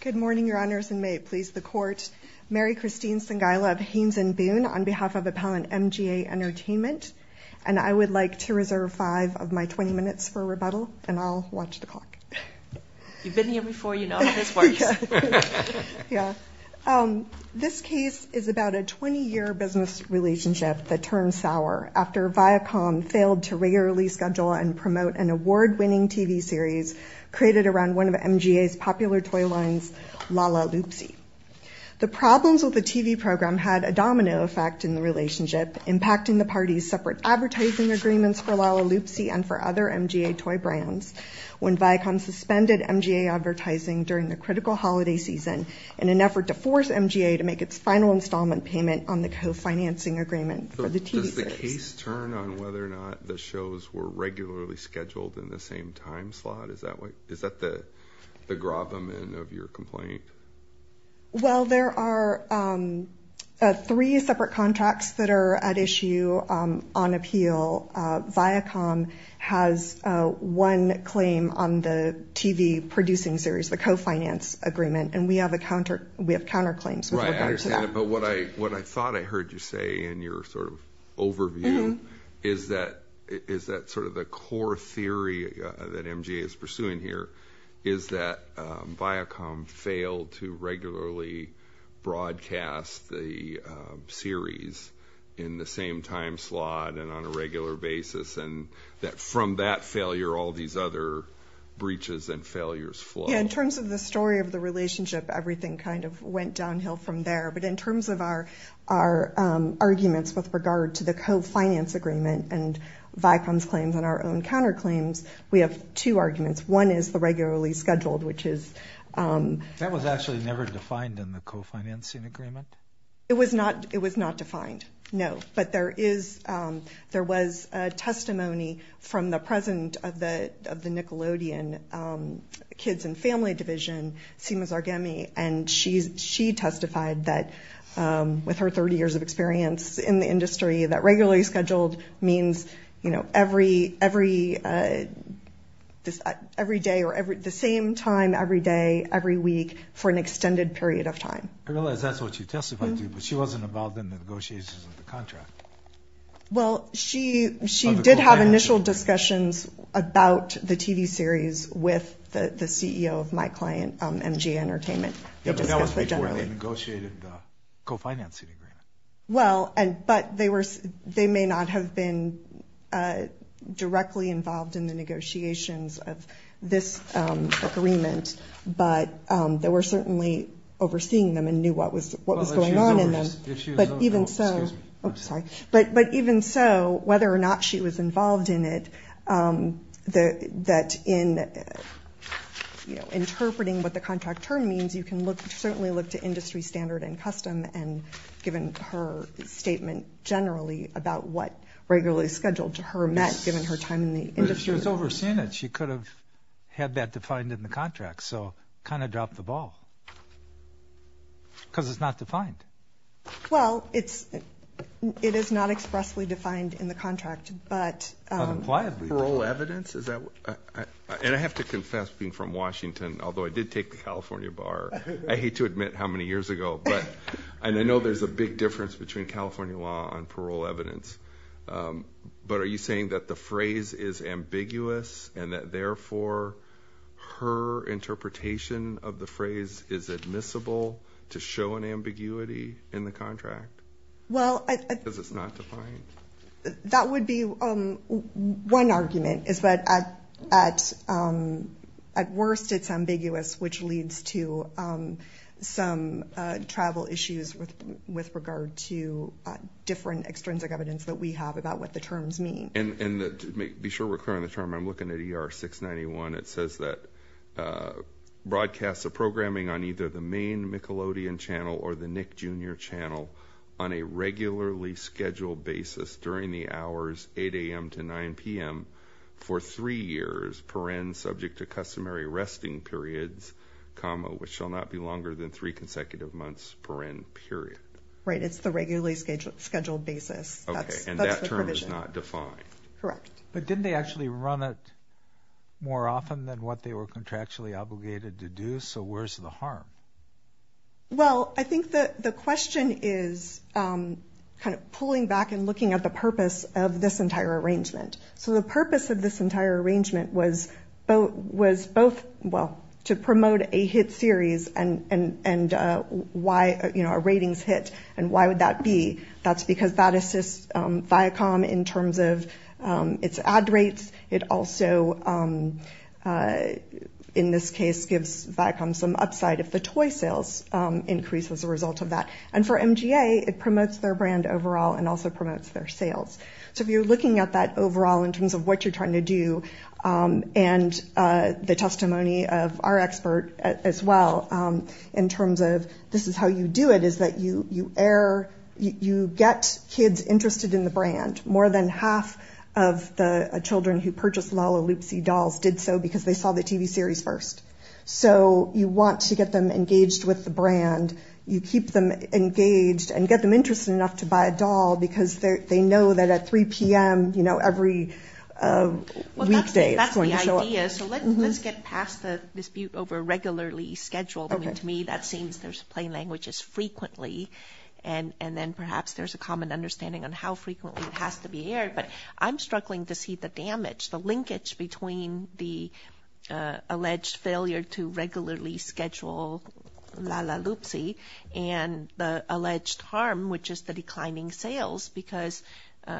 Good morning, Your Honors, and may it please the Court, Mary Christine Sengaila of Haines & Boone on behalf of Appellant MGA Entertainment, and I would like to reserve five of my 20 minutes for rebuttal, and I'll watch the clock. You've been here before, you know how this works. Yeah. This case is about a 20-year business relationship that turned sour after Viacom failed to regularly schedule and promote an award-winning TV series created around one of MGA's popular toy lines, La La Loopsie. The problems with the TV program had a domino effect in the relationship, impacting the parties' separate advertising agreements for La La Loopsie and for other MGA toy brands when Viacom suspended MGA advertising during the critical holiday season in an effort to force MGA to make its final installment payment on the co-financing agreement for the TV series. Does the case turn on whether or not the shows were regularly scheduled in the same time slot? Is that the grab-a-man of your complaint? Well, there are three separate contracts that are at issue on appeal. Viacom has one claim on the TV producing series, the co-finance agreement, and we have counterclaims. But what I thought I heard you say in your sort of overview is that sort of the core theory that MGA is pursuing here is that Viacom failed to regularly broadcast the series in the same time slot and on a regular basis, and that from that failure all these other breaches and failures flow. Yeah, in terms of the story of the relationship, everything kind of went downhill from there. But in terms of our arguments with regard to the co-finance agreement and Viacom's claims and our own counterclaims, we have two arguments. One is the regularly scheduled, which is... That was actually never defined in the co-financing agreement? It was not defined, no. But there was testimony from the president of the Nickelodeon kids and family division, Seema Zarghemi, and she testified that with her 30 years of experience in the industry, that regularly scheduled means every day or the same time every day, every week, for an extended period of time. I realize that's what she testified to, but she wasn't involved in the negotiations of the contract. Well, she did have initial discussions about the TV series with the CEO of my client, MGA Entertainment. Yeah, but that was before they negotiated the co-financing agreement. Well, but they may not have been directly involved in the negotiations of this agreement, but they were certainly overseeing them and knew what was going on in them. But even so, whether or not she was involved in it, that in interpreting what the contract term means, you can certainly look to industry standard and custom, and given her statement generally about what regularly scheduled to her meant given her time in the industry. But if she was overseeing it, she could have had that defined in the contract. So it kind of dropped the ball because it's not defined. Well, it is not expressly defined in the contract, but parole evidence. And I have to confess, being from Washington, although I did take the California bar, I hate to admit how many years ago, but I know there's a big difference between California law and parole evidence. But are you saying that the phrase is ambiguous and that, therefore, her interpretation of the phrase is admissible to show an ambiguity in the contract? Well, that would be one argument is that at worst it's ambiguous, which leads to some travel issues with regard to different extrinsic evidence that we have about what the terms mean. And to be sure we're clear on the term, I'm looking at ER 691. It says that broadcasts of programming on either the main Michelodian channel or the Nick Jr. channel on a regularly scheduled basis during the hours 8 a.m. to 9 p.m. for three years, per end subject to customary resting periods, comma, which shall not be longer than three consecutive months per end, period. Right. It's the regularly scheduled basis. And that term is not defined. Correct. But didn't they actually run it more often than what they were contractually obligated to do? So where's the harm? Well, I think that the question is kind of pulling back and looking at the purpose of this entire arrangement. So the purpose of this entire arrangement was to promote a hit series and a ratings hit. And why would that be? That's because that assists Viacom in terms of its ad rates. It also, in this case, gives Viacom some upside if the toy sales increase as a result of that. And for MGA, it promotes their brand overall and also promotes their sales. So if you're looking at that overall in terms of what you're trying to do and the testimony of our expert as well, in terms of this is how you do it, is that you get kids interested in the brand. More than half of the children who purchase Lollaloopsy dolls did so because they saw the TV series first. So you want to get them engaged with the brand. You keep them engaged and get them interested enough to buy a doll because they know that at 3 p.m. every weekday it's going to show up. Well, that's the idea. So let's get past the dispute over regularly scheduled. I mean, to me, that seems there's plain language is frequently. And then perhaps there's a common understanding on how frequently it has to be aired. But I'm struggling to see the damage, the linkage between the alleged failure to regularly schedule Lollaloopsy and the alleged harm, which is the declining sales, because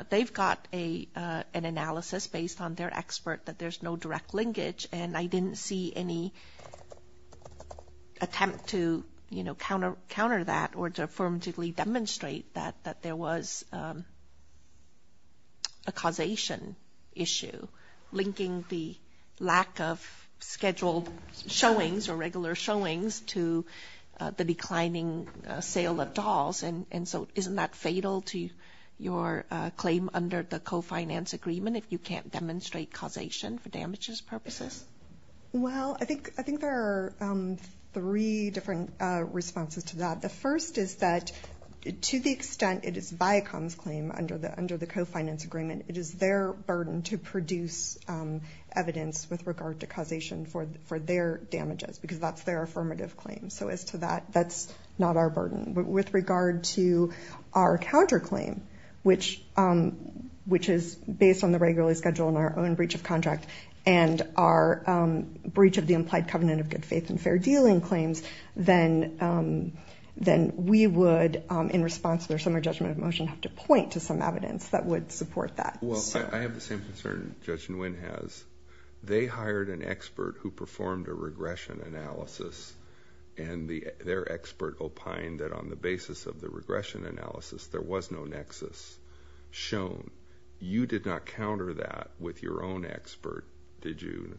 they've got an analysis based on their expert that there's no direct linkage. And I didn't see any attempt to counter that or to affirmatively demonstrate that there was a causation issue, linking the lack of scheduled showings or regular showings to the declining sale of dolls. And so isn't that fatal to your claim under the co-finance agreement if you can't demonstrate causation for damages purposes? Well, I think there are three different responses to that. The first is that to the extent it is Viacom's claim under the co-finance agreement, it is their burden to produce evidence with regard to causation for their damages because that's their affirmative claim. So as to that, that's not our burden. But with regard to our counterclaim, which is based on the regularly scheduled and our own breach of contract and our breach of the implied covenant of good faith and fair dealing claims, then we would, in response to their summary judgment of motion, have to point to some evidence that would support that. Well, I have the same concern Judge Nguyen has. They hired an expert who performed a regression analysis, and their expert opined that on the basis of the regression analysis, there was no nexus shown. You did not counter that with your own expert, did you,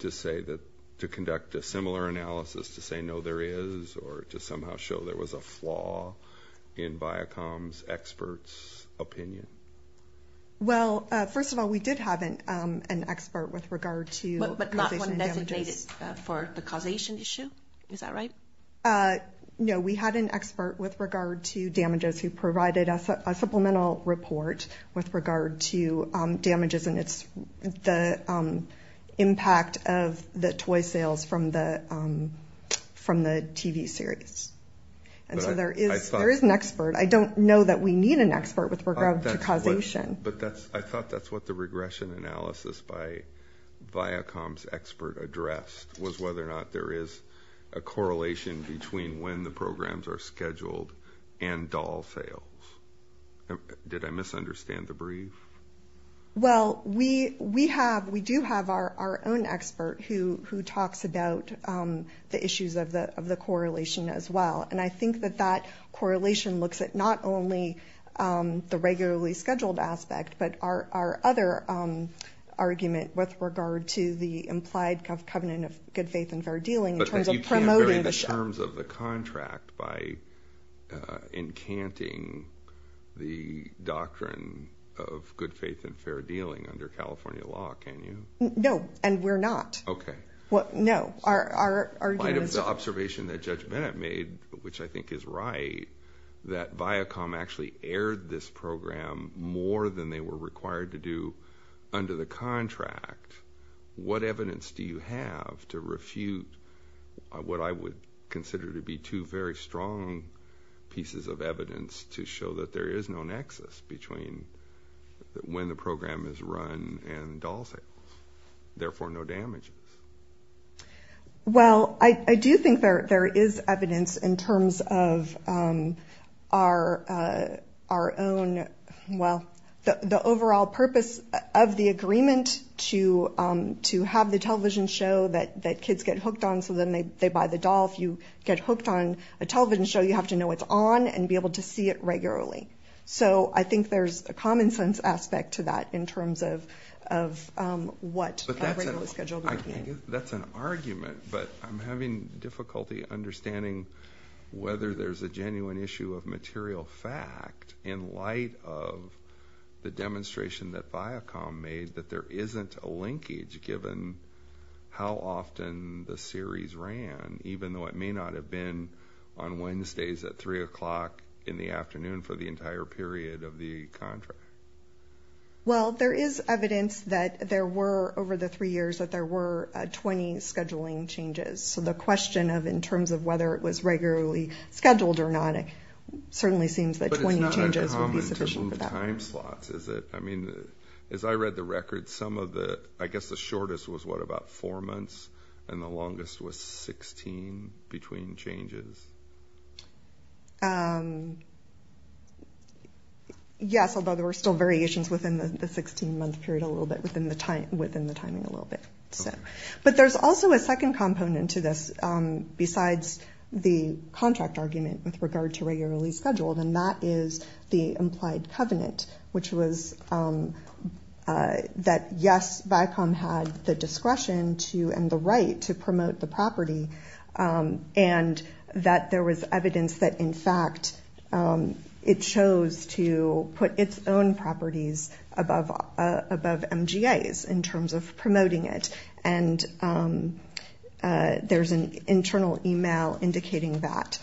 to say that, to conduct a similar analysis to say no there is, or to somehow show there was a flaw in Viacom's expert's opinion? Well, first of all, we did have an expert with regard to causation and damages. But not one designated for the causation issue? Is that right? No, we had an expert with regard to damages who provided us a supplemental report with regard to damages and the impact of the toy sales from the TV series. And so there is an expert. I don't know that we need an expert with regard to causation. But I thought that's what the regression analysis by Viacom's expert addressed, was whether or not there is a correlation between when the programs are scheduled and doll sales. Did I misunderstand the brief? Well, we do have our own expert who talks about the issues of the correlation as well. And I think that that correlation looks at not only the regularly scheduled aspect, but our other argument with regard to the implied covenant of good faith and fair dealing in terms of promoting the show. by encanting the doctrine of good faith and fair dealing under California law, can you? No, and we're not. Okay. Well, no. The observation that Judge Bennett made, which I think is right, that Viacom actually aired this program more than they were required to do under the contract. What evidence do you have to refute what I would consider to be two very strong pieces of evidence to show that there is no nexus between when the program is run and doll sales, therefore no damages? Well, I do think there is evidence in terms of our own, well, the overall purpose of the agreement to have the television show that kids get hooked on so then they buy the doll. If you get hooked on a television show, you have to know it's on and be able to see it regularly. So I think there's a common-sense aspect to that in terms of what a regularly scheduled program is. That's an argument, but I'm having difficulty understanding whether there's a genuine issue of material fact in light of the demonstration that Viacom made that there isn't a linkage given how often the series ran, even though it may not have been on Wednesdays at 3 o'clock in the afternoon for the entire period of the contract. Well, there is evidence that there were, over the three years, that there were 20 scheduling changes. So the question of in terms of whether it was regularly scheduled or not, it certainly seems that 20 changes would be sufficient for that. But it's not uncommon to move time slots, is it? I mean, as I read the records, some of the, I guess the shortest was what, about four months? And the longest was 16 between changes? Yes, although there were still variations within the 16-month period a little bit, within the timing a little bit. But there's also a second component to this besides the contract argument with regard to regularly scheduled, and that is the implied covenant, which was that yes, Viacom had the discretion to and the right to promote the property, and that there was evidence that, in fact, it chose to put its own properties above MGA's in terms of promoting it. And there's an internal e-mail indicating that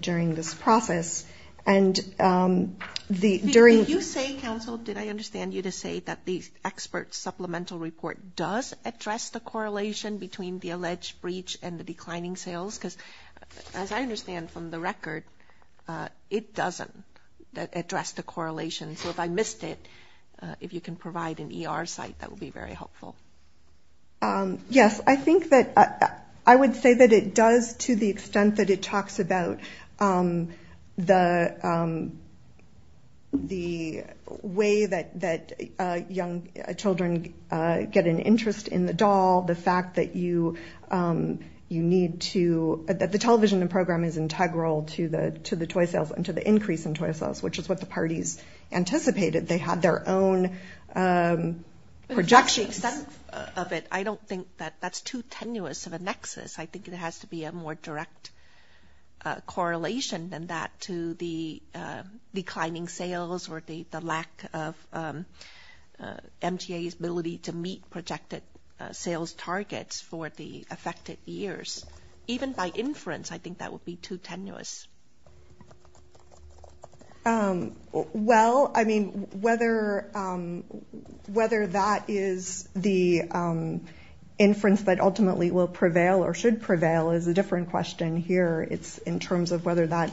during this process. Did you say, counsel, did I understand you to say that the expert supplemental report does address the correlation between the alleged breach and the declining sales? Because as I understand from the record, it doesn't address the correlation. So if I missed it, if you can provide an ER site, that would be very helpful. Yes, I think that I would say that it does to the extent that it talks about the way that young children get an interest in the doll, the fact that you need to – that the television program is integral to the toy sales and to the increase in toy sales, which is what the parties anticipated. They had their own projections. But to the extent of it, I don't think that that's too tenuous of a nexus. I think it has to be a more direct correlation than that to the declining sales or the lack of MGA's ability to meet projected sales targets for the affected years. Even by inference, I think that would be too tenuous. Well, I mean, whether that is the inference that ultimately will prevail or should prevail is a different question here. It's in terms of whether that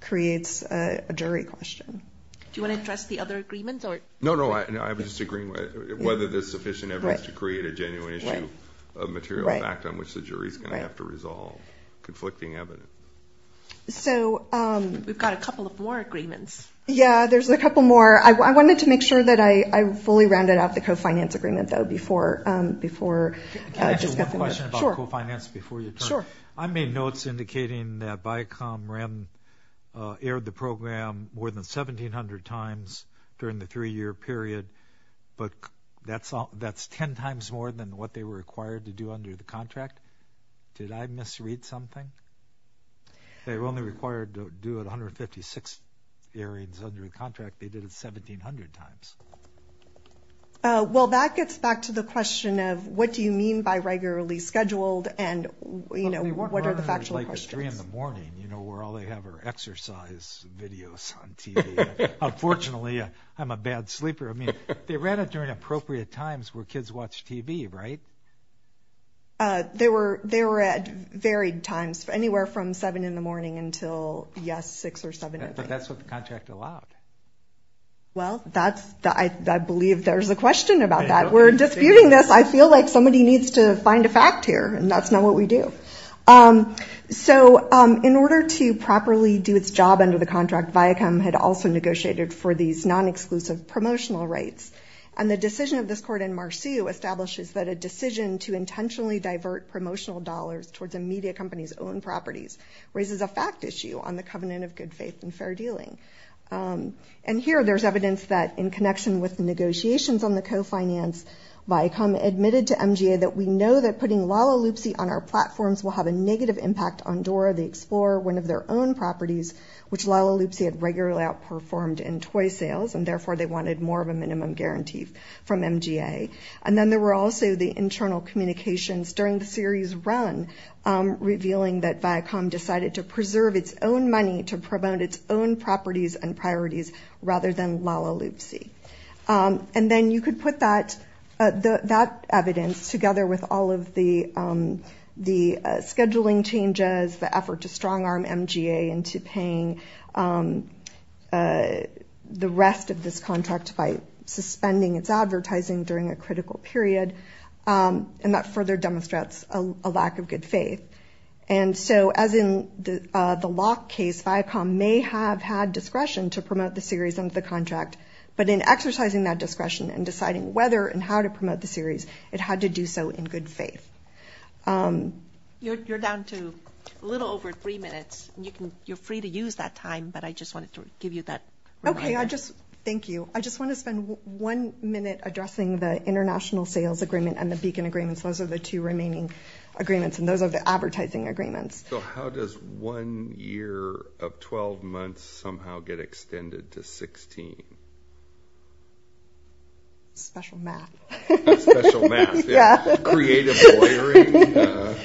creates a jury question. Do you want to address the other agreements? No, no, I was just agreeing whether there's sufficient evidence to create a genuine issue of material fact on which the jury is going to have to resolve conflicting evidence. We've got a couple of more agreements. Yeah, there's a couple more. I wanted to make sure that I fully rounded out the co-finance agreement, though, before – Can I ask you one question about co-finance before you turn? Sure. I made notes indicating that Viacom aired the program more than 1,700 times during the three-year period, but that's ten times more than what they were required to do under the contract. Did I misread something? They were only required to do it 156 hearings under the contract. They did it 1,700 times. Well, that gets back to the question of what do you mean by regularly scheduled and, you know, what are the factual questions? Well, we work learners like three in the morning, you know, where all they have are exercise videos on TV. Unfortunately, I'm a bad sleeper. I mean, they ran it during appropriate times where kids watch TV, right? They were at varied times, anywhere from seven in the morning until, yes, six or seven in the evening. But that's what the contract allowed. Well, I believe there's a question about that. We're disputing this. I feel like somebody needs to find a fact here, and that's not what we do. So in order to properly do its job under the contract, Viacom had also negotiated for these non-exclusive promotional rights. And the decision of this court in Marseille establishes that a decision to intentionally divert promotional dollars towards a media company's own properties raises a fact issue on the Covenant of Good Faith and Fair Dealing. And here there's evidence that in connection with negotiations on the co-finance, Viacom admitted to MGA that we know that putting Lala Loopsie on our platform is not a good idea. And that Viacom's plans will have a negative impact on Dora the Explorer, one of their own properties, which Lala Loopsie had regularly outperformed in toy sales, and therefore they wanted more of a minimum guarantee from MGA. And then there were also the internal communications during the series run, revealing that Viacom decided to preserve its own money to promote its own properties and priorities rather than Lala Loopsie. And then you could put that evidence together with all of the scheduling changes, the effort to strong arm MGA into paying the rest of this contract by suspending its advertising during a critical period. And that further demonstrates a lack of good faith. And so as in the lock case, Viacom may have had discretion to promote the series under the contract, but in exercising that discretion and deciding whether and how to promote the series, it had to do so in good faith. You're down to a little over three minutes. You're free to use that time, but I just wanted to give you that reminder. Thank you. I just want to spend one minute addressing the international sales agreement and the beacon agreements. Those are the two remaining agreements, and those are the advertising agreements. So how does one year of 12 months somehow get extended to 16? Special math. Creative lawyering.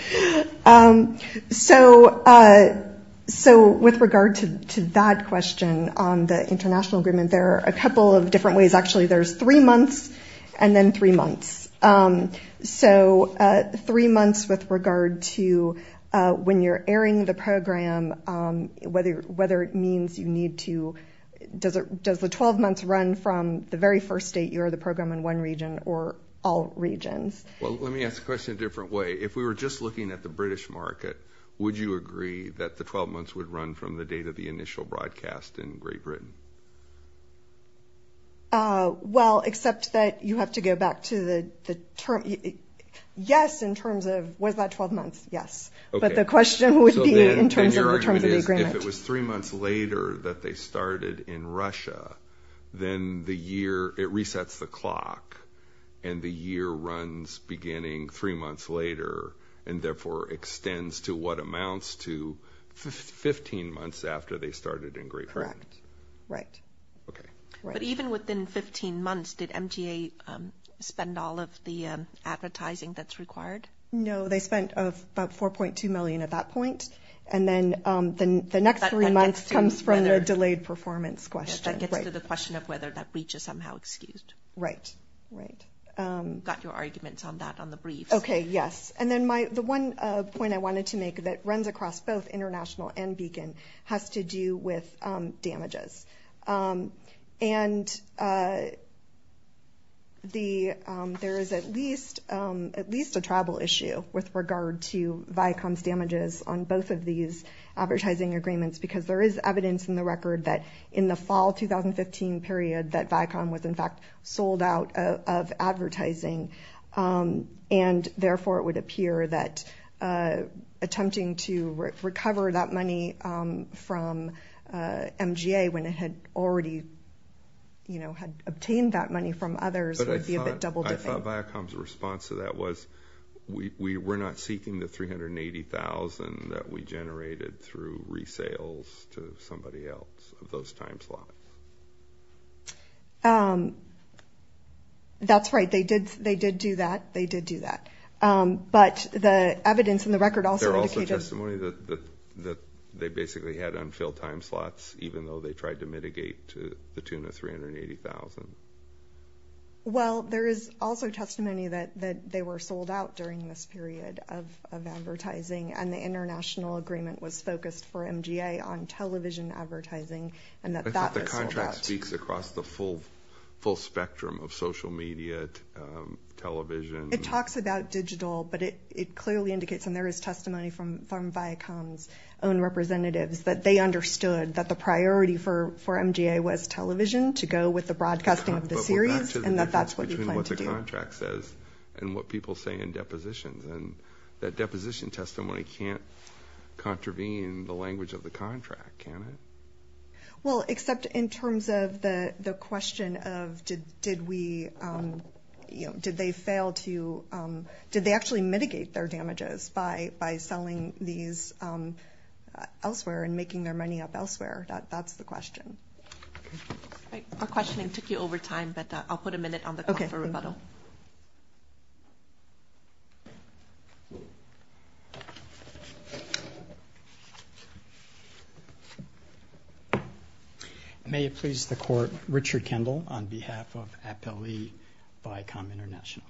So with regard to that question on the international agreement, there are a couple of different ways. Actually, there's three months and then three months. So three months with regard to when you're airing the program, whether it means you need to. Does the 12 months run from the very first date you air the program in one region or all regions? Well, let me ask the question a different way. If we were just looking at the British market, would you agree that the 12 months would run from the date of the initial broadcast in Great Britain? Well, except that you have to go back to the term. Yes, in terms of, was that 12 months? Yes. But the question would be in terms of the agreement. So then your argument is if it was three months later that they started in Russia, then the year, it resets the clock and the year runs beginning three months later, and therefore extends to what amounts to 15 months after they started in Great Britain. Correct. But even within 15 months, did MTA spend all of the advertising that's required? No, they spent about $4.2 million at that point. And then the next three months comes from the delayed performance question. That gets to the question of whether that breach is somehow excused. Got your arguments on that on the brief. Okay, yes. And then the one point I wanted to make that runs across both International and Beacon has to do with damages. And there is at least a travel issue with regard to Viacom's damages on both of these advertising agreements, because there is evidence in the record that in the fall 2015 period that Viacom was in fact sold out of advertising. And therefore it would appear that attempting to recover that money from MGA when it had already, you know, had obtained that money from others would be a bit double-dipping. I thought Viacom's response to that was we're not seeking the $380,000 that we generated through resales to somebody else of those time slots. That's right. They did do that. They did do that. But the evidence in the record also indicated that they basically had unfilled time slots, even though they tried to mitigate to the tune of $380,000. Well, there is also testimony that they were sold out during this period of advertising, and the international agreement was focused for MGA on television advertising and that that was sold out. I thought the contract speaks across the full spectrum of social media, television. It talks about digital, but it clearly indicates, and there is testimony from Viacom's own representatives, that they understood that the priority for MGA was television to go with the broadcasting of the series, and that that's what we plan to do. And what people say in depositions, and that deposition testimony can't contravene the language of the contract, can it? Well, except in terms of the question of did we, you know, did they fail to, did they actually mitigate their damages by selling these elsewhere and making their money up elsewhere? That's the question. May it please the Court, Richard Kendall on behalf of Appellee Viacom International.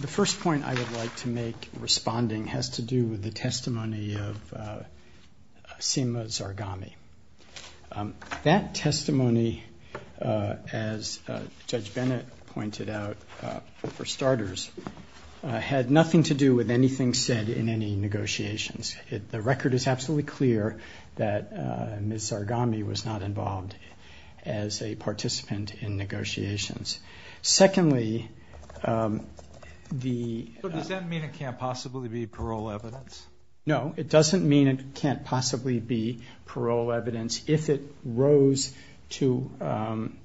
The first point I would like to make responding has to do with the testimony of Seema Zarghami. That testimony, as Judge Bennett pointed out, for starters, had nothing to do with anything said in any negotiations. The record is absolutely clear that Ms. Zarghami was not involved as a participant in negotiations. Secondly, the... So does that mean it can't possibly be parole evidence? No, it doesn't mean it can't possibly be parole evidence if it rose to an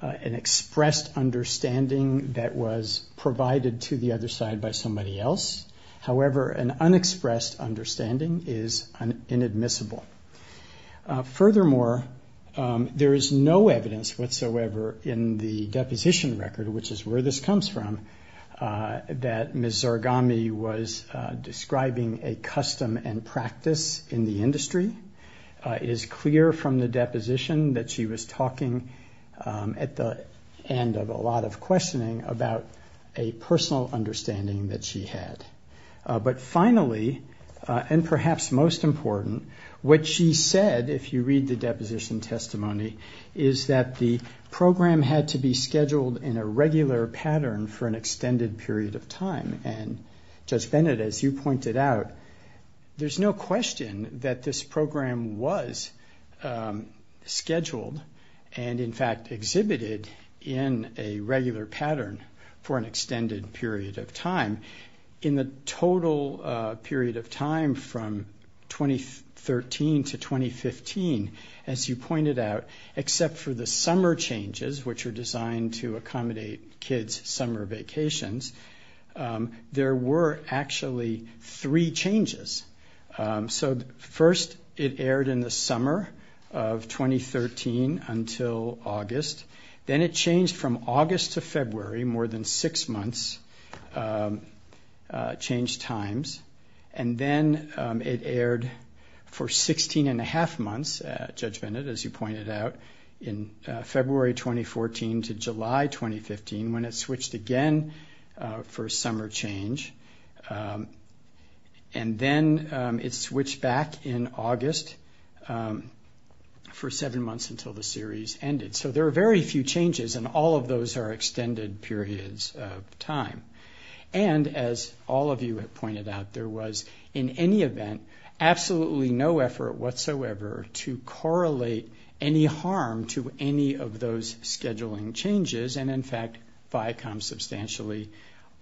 expressed understanding that was provided to the other side by somebody else. However, an unexpressed understanding is inadmissible. Furthermore, there is no evidence whatsoever in the deposition record, which is where this comes from, that Ms. Zarghami was describing a custom and practice in the industry. It is clear from the deposition that she was talking at the end of a lot of questioning about a personal understanding that she had. But finally, and perhaps most important, what she said, if you read the deposition testimony, is that the program had to be scheduled in a regular pattern for an extended period of time. And Judge Bennett, as you pointed out, there's no question that this program was scheduled and, in fact, exhibited in a regular pattern for an extended period of time. In the total period of time from 2013 to 2015, as you pointed out, except for the summer changes, which were designed to accommodate kids' summer vacations, there were actually three changes. So first it aired in the summer of 2013 until August. Then it changed from August to February, more than six months, changed times. And then it aired for 16-and-a-half months, Judge Bennett, as you pointed out, in February 2014 to July 2015, when it switched again for summer change. And then it switched back in August for seven months until the series ended. So there are very few changes, and all of those are extended periods of time. And, as all of you have pointed out, there was, in any event, absolutely no effort whatsoever to correlate any harm to any of those scheduling changes, and, in fact, Viacom substantially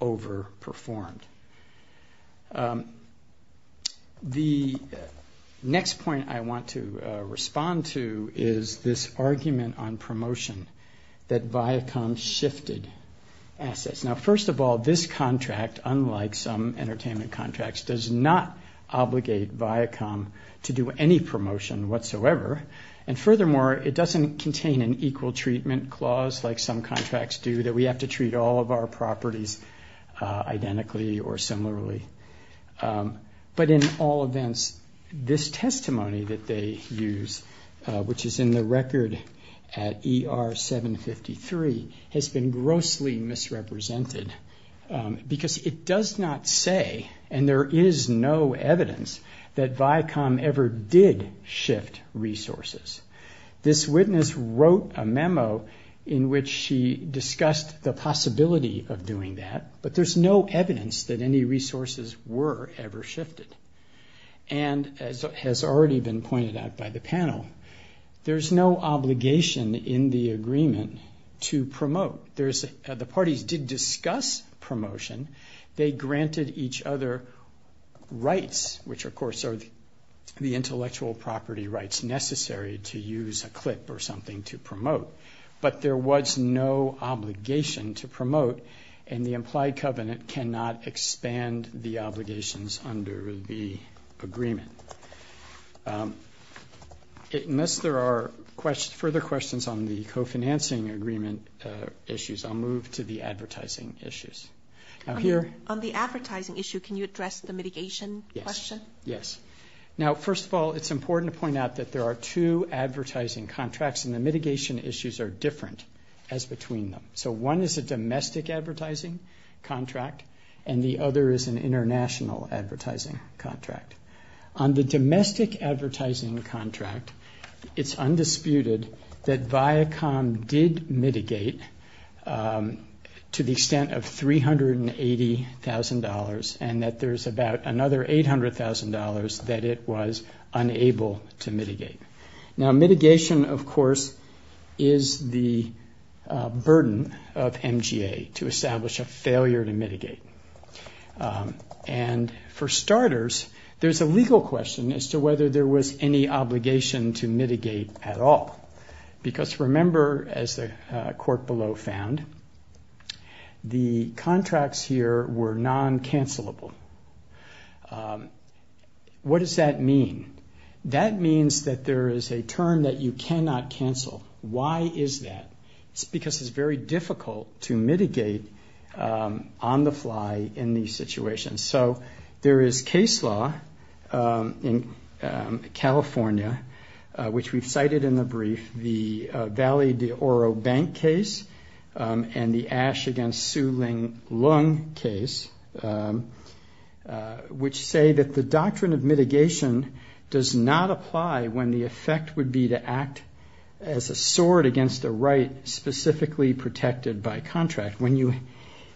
overperformed. The next point I want to respond to is this argument on promotion, that Viacom shifted assets. Now, first of all, this contract, unlike some entertainment contracts, does not obligate Viacom to do any promotion whatsoever. And, furthermore, it doesn't contain an equal treatment clause, like some contracts do, that we have to treat all of our properties identically. But, in all events, this testimony that they use, which is in the record at ER 753, has been grossly misrepresented, because it does not say, and there is no evidence, that Viacom ever did shift resources. This witness wrote a memo in which she discussed the possibility of doing that, but there's no evidence that Viacom ever did shift resources. There's no evidence that any resources were ever shifted. And, as has already been pointed out by the panel, there's no obligation in the agreement to promote. The parties did discuss promotion, they granted each other rights, which, of course, are the intellectual property rights necessary to use a clip or something to promote. But, there was no obligation to promote, and the implied covenant cannot expand the obligations under the agreement. Unless there are further questions on the co-financing agreement issues, I'll move to the advertising issues. On the advertising issue, can you address the mitigation question? Yes. Now, first of all, it's important to point out that there are two advertising contracts, and the mitigation issues are different as between them. So, one is a domestic advertising contract, and the other is an international advertising contract. On the domestic advertising contract, it's undisputed that Viacom did mitigate to the extent of $380,000, and that there's about another $800,000 in the contract that it was unable to mitigate. Now, mitigation, of course, is the burden of MGA, to establish a failure to mitigate. And, for starters, there's a legal question as to whether there was any obligation to mitigate at all. Because, remember, as the court below found, the contracts here were non-cancelable. What does that mean? That means that there is a term that you cannot cancel. Why is that? It's because it's very difficult to mitigate on the fly in these situations. So, there is case law in California, which we've cited in the brief, the Valley de Oro Bank case, and the Ash against Su Ling Lung case, which say that the doctrine of mitigation does not apply when the effect would be to act as a sword against a right specifically protected by contract.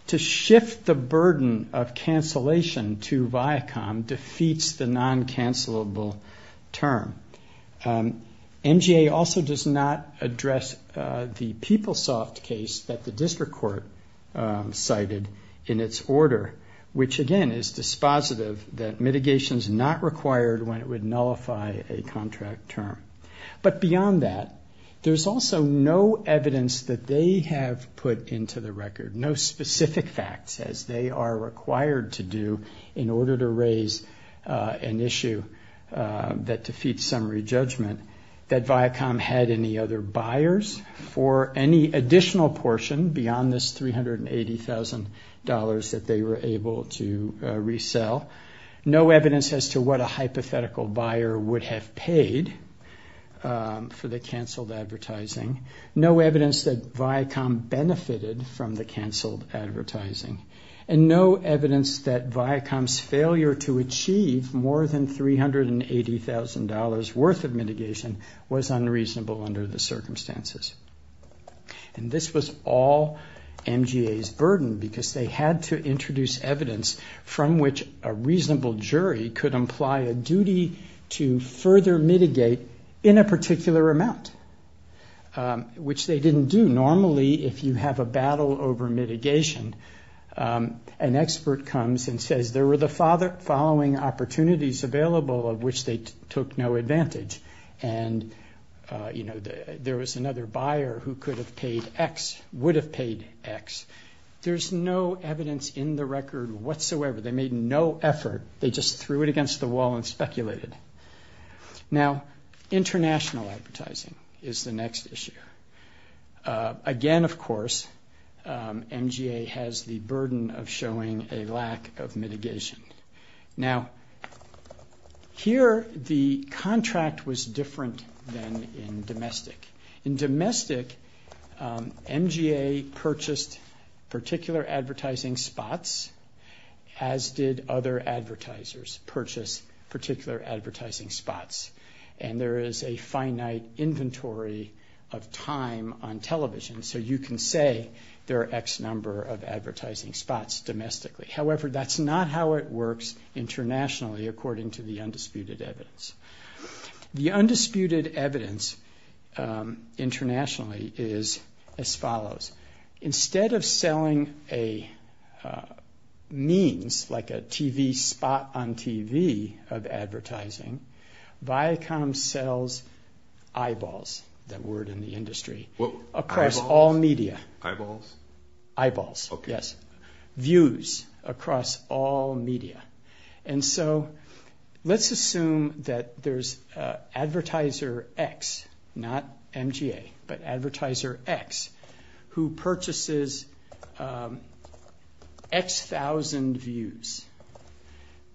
To shift the burden of cancellation to Viacom defeats the non-cancelable term. MGA also does not address the PeopleSoft case that the district court cited in its order, which, again, is dispositive that mitigation is not required when it would nullify a contract term. But, beyond that, there's also no evidence that they have put into the record, no specific facts, as they are required to do in order to raise an issue that defeats summary judgment, that Viacom had any other buyers for any additional portion beyond this $380,000 that they were able to resell. No evidence as to what a hypothetical buyer would have paid for the canceled advertising. No evidence that Viacom benefited from the canceled advertising. And no evidence that Viacom's failure to achieve more than $380,000 worth of mitigation was unreasonable under the circumstances. And this was all MGA's burden, because they had to introduce evidence from which a reasonable jury would be able to make a decision. And a reasonable jury could imply a duty to further mitigate in a particular amount, which they didn't do. Normally, if you have a battle over mitigation, an expert comes and says, there were the following opportunities available of which they took no advantage. And, you know, there was another buyer who could have paid X, would have paid X. There's no evidence in the record whatsoever, they made no effort, they just threw it against the wall and speculated. Now, international advertising is the next issue. Again, of course, MGA has the burden of showing a lack of mitigation. Now, here the contract was different than in domestic. In domestic, MGA purchased particular advertising spots, as did other advertisers purchase particular advertising spots. And there is a finite inventory of time on television, so you can say there are X number of advertising spots domestically. However, that's not how it works internationally, according to the undisputed evidence. The undisputed evidence internationally is as follows. Instead of selling a means, like a TV spot on TV of advertising, Viacom sells eyeballs, that word in the industry, across all media. Eyeballs? Eyeballs, yes. Views across all media. And so let's assume that there's advertiser X, not MGA, but advertiser X, who purchases X thousand views.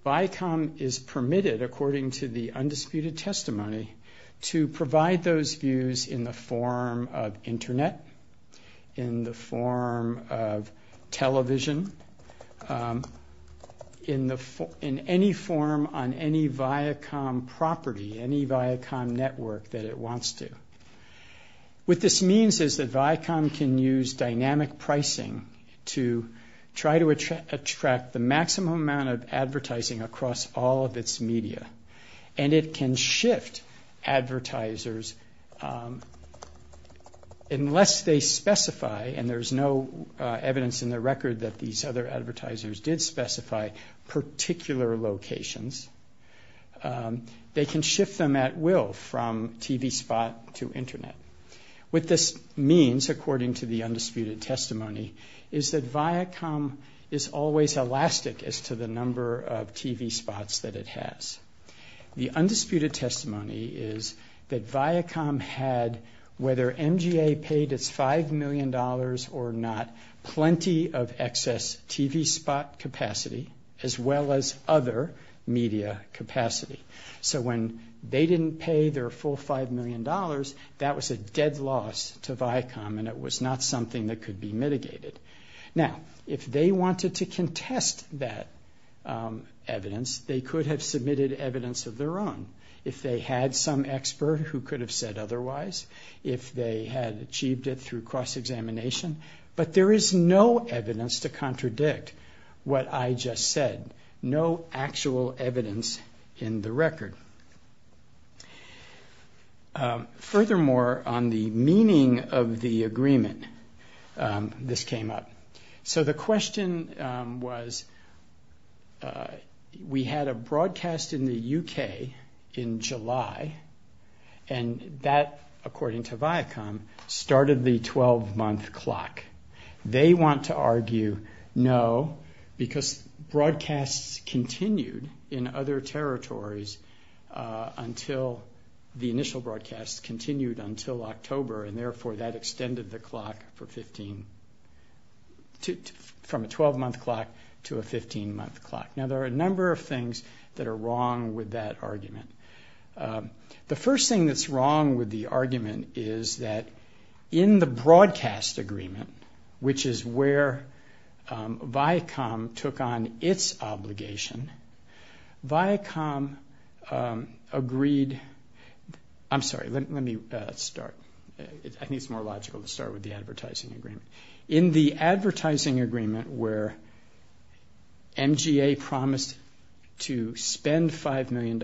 Viacom is permitted, according to the undisputed testimony, to provide those views in the form of Internet, in the form of television, in any form on any Viacom property, any Viacom network that it wants to. What this means is that Viacom can use dynamic pricing to try to attract the maximum amount of advertising across all of its media. And it can shift advertisers, unless they specify, and there's no way to do that, that it's going to shift advertisers. There's no evidence in the record that these other advertisers did specify particular locations. They can shift them at will, from TV spot to Internet. What this means, according to the undisputed testimony, is that Viacom is always elastic as to the number of TV spots that it has. The undisputed testimony is that Viacom had, whether MGA paid its $5 million or not, it was always elastic. It had, whether MGA paid its $5 million or not, plenty of excess TV spot capacity, as well as other media capacity. So when they didn't pay their full $5 million, that was a dead loss to Viacom, and it was not something that could be mitigated. Now, if they wanted to contest that evidence, they could have submitted evidence of their own. If they had some expert who could have said otherwise, if they had achieved it through cross-examination, but they didn't. But there is no evidence to contradict what I just said. No actual evidence in the record. Furthermore, on the meaning of the agreement, this came up. So the question was, we had a broadcast in the UK in July, and that, according to Viacom, started the 12-month clock. They want to argue, no, because broadcasts continued in other territories until the initial broadcasts continued until October, and therefore that extended the clock from a 12-month clock to a 15-month clock. Now, there are a number of things that are wrong with that argument. The first thing that's wrong with the argument is that in the broadcast agreement, which is where Viacom took on its obligation, Viacom agreed... I'm sorry, let me start. I think it's more logical to start with the advertising agreement. In the advertising agreement where MGA promised to spend $5 million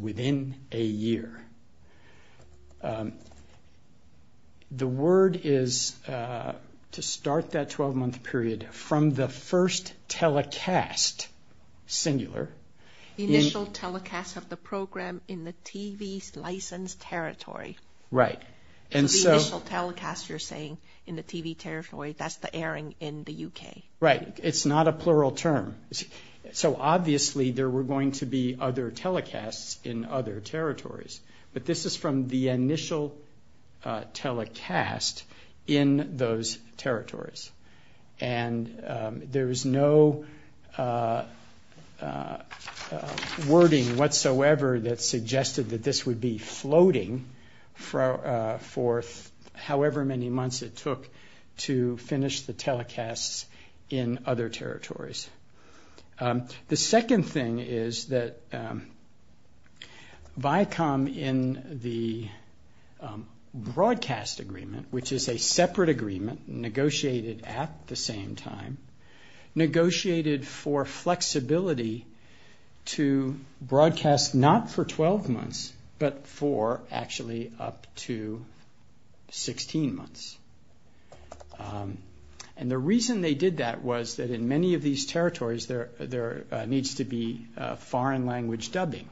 within a year, the word is to start that 12-month period from the first telecast, singular... The initial telecast of the program in the TV's licensed territory. Right. So the initial telecast, you're saying, in the TV territory, that's the airing in the UK. Right. It's not a plural term. So obviously there were going to be other telecasts in other territories, but this is from the initial telecast in those territories. And there is no wording whatsoever that suggested that this would be floating for however many months it took to finish the telecasts in the UK. The second thing is that Viacom in the broadcast agreement, which is a separate agreement, negotiated at the same time, negotiated for flexibility to broadcast not for 12 months, but for actually up to 16 months. And the reason they did that was that in many of these territories there needs to be foreign language dubbing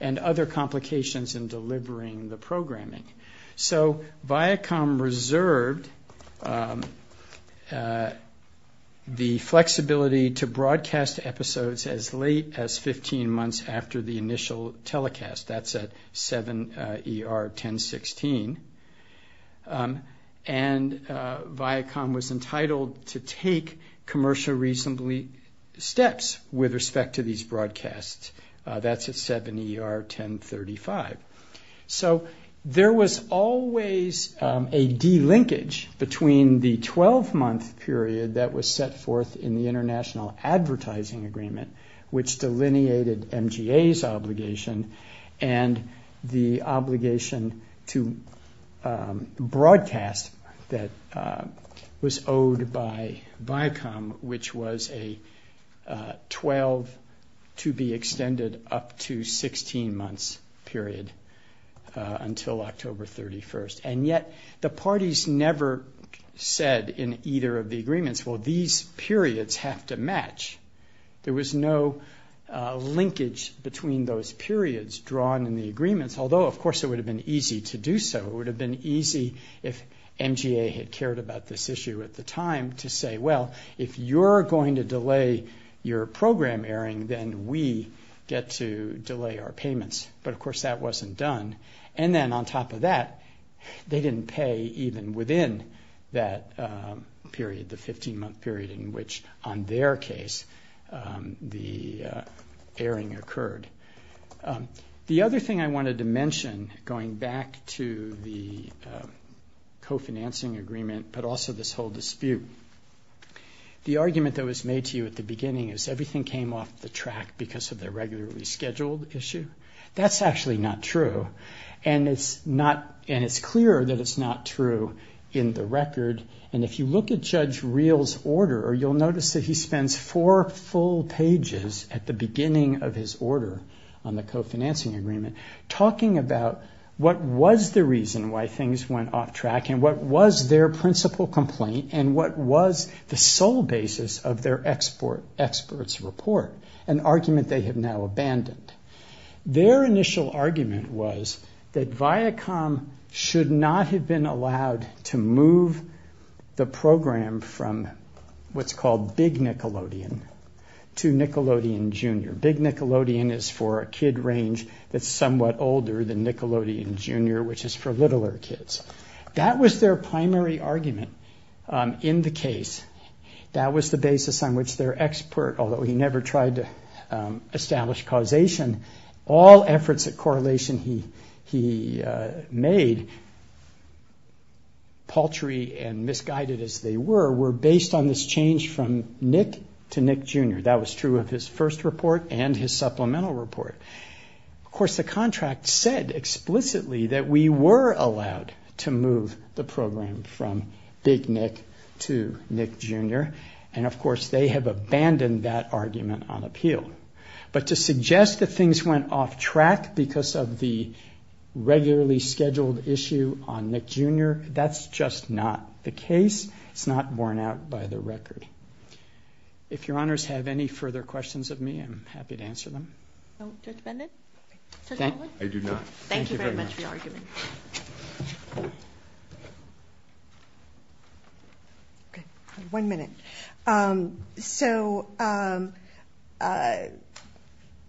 and other complications in delivering the programming. So Viacom reserved the flexibility to broadcast episodes as late as 15 months after the initial telecast. That's at 7 ER 1016. And Viacom was entitled to take commercial reasonably steps with respect to these broadcasts. That's at 7 ER 1035. So there was always a de-linkage between the 12-month period that was set forth in the International Advertising Agreement, which delineated MGA's obligation, and the obligation to broadcast that was owed by Viacom, which was a 12-to-be-extended-up-to-16-months period until October 31. And yet the parties never said in either of the agreements, well, these periods have to match. There was no linkage between those periods drawn in the agreements, although, of course, it would have been easy to do so. It would have been easy if MGA had cared about this issue at the time to say, well, if you're going to delay your program airing, then we get to delay our payments. But, of course, that wasn't done. And then on top of that, they didn't pay even within that period, the 15-month period in which, on their case, the airing occurred. The other thing I wanted to mention, going back to the co-financing agreement, but also this whole dispute, the argument that was made to you at the beginning is everything came off the track because of the regularly scheduled issue. That's actually not true, and it's clear that it's not true in the record. And if you look at Judge Reill's order, you'll notice that he spends four full pages at the beginning of his order on the co-financing agreement talking about what was the reason why things went off track and what was their principal complaint and what was the sole basis of their experts' report, an argument they have now abandoned. Their initial argument was that Viacom should not have been allowed to move the program from what's called Big Nickelodeon to Nickelodeon Junior. Big Nickelodeon is for a kid range that's somewhat older than Nickelodeon Junior, which is for littler kids. That was their primary argument in the case. That was the basis on which their expert, although he never tried to establish causation, all efforts at correlation he made, paltry and misguided as they were, were based on this change from Nick to Nick Junior. That was true of his first report and his supplemental report. Of course, the contract said explicitly that we were allowed to move the program from Big Nick to Nick Junior. Of course, they have abandoned that argument on appeal. To suggest that things went off track because of the regularly scheduled issue on Nick Junior, that's just not the case. It's not borne out by the record. If your honors have any further questions of me, I'm happy to answer them. Judge Baldwin? One minute.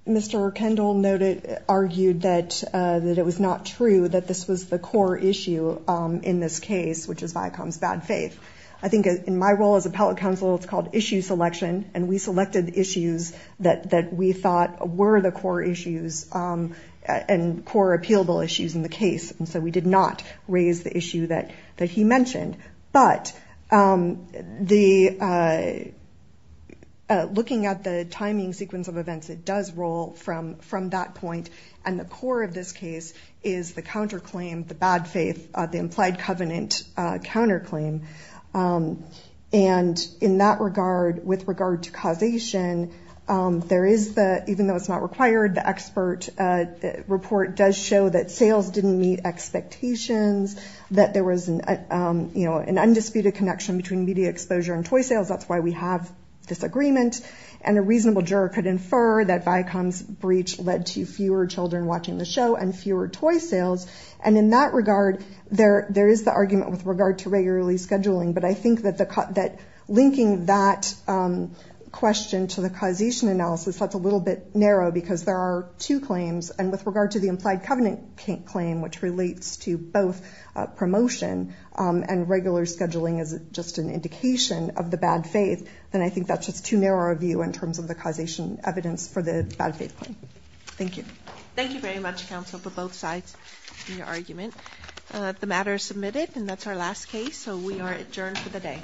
Mr. Kendall argued that it was not true that this was the core issue in this case, which is Viacom's bad faith. I think in my role as appellate counsel, it's called issue selection. We selected issues that we thought were the core issues and core appealable issues in the case. So we did not raise the issue that he mentioned. Looking at the timing sequence of events, it does roll from that point. The core of this case is the counterclaim, the bad faith, the implied covenant counterclaim. In that regard, with regard to causation, even though it's not required, the expert report does show that sales didn't meet expectations, that there was an undisputed connection between media exposure and toy sales. And a reasonable juror could infer that Viacom's breach led to fewer children watching the show and fewer toy sales. And in that regard, there is the argument with regard to regularly scheduling. But I think that linking that question to the causation analysis, that's a little bit narrow, because there are two claims. And with regard to the implied covenant claim, which relates to both promotion and regular scheduling as just an indication of the bad faith, then I think that's just too narrow a view in terms of the causation evidence for the bad faith claim. Thank you. Thank you very much, counsel, for both sides in your argument. The matter is submitted, and that's our last case, so we are adjourned for the day.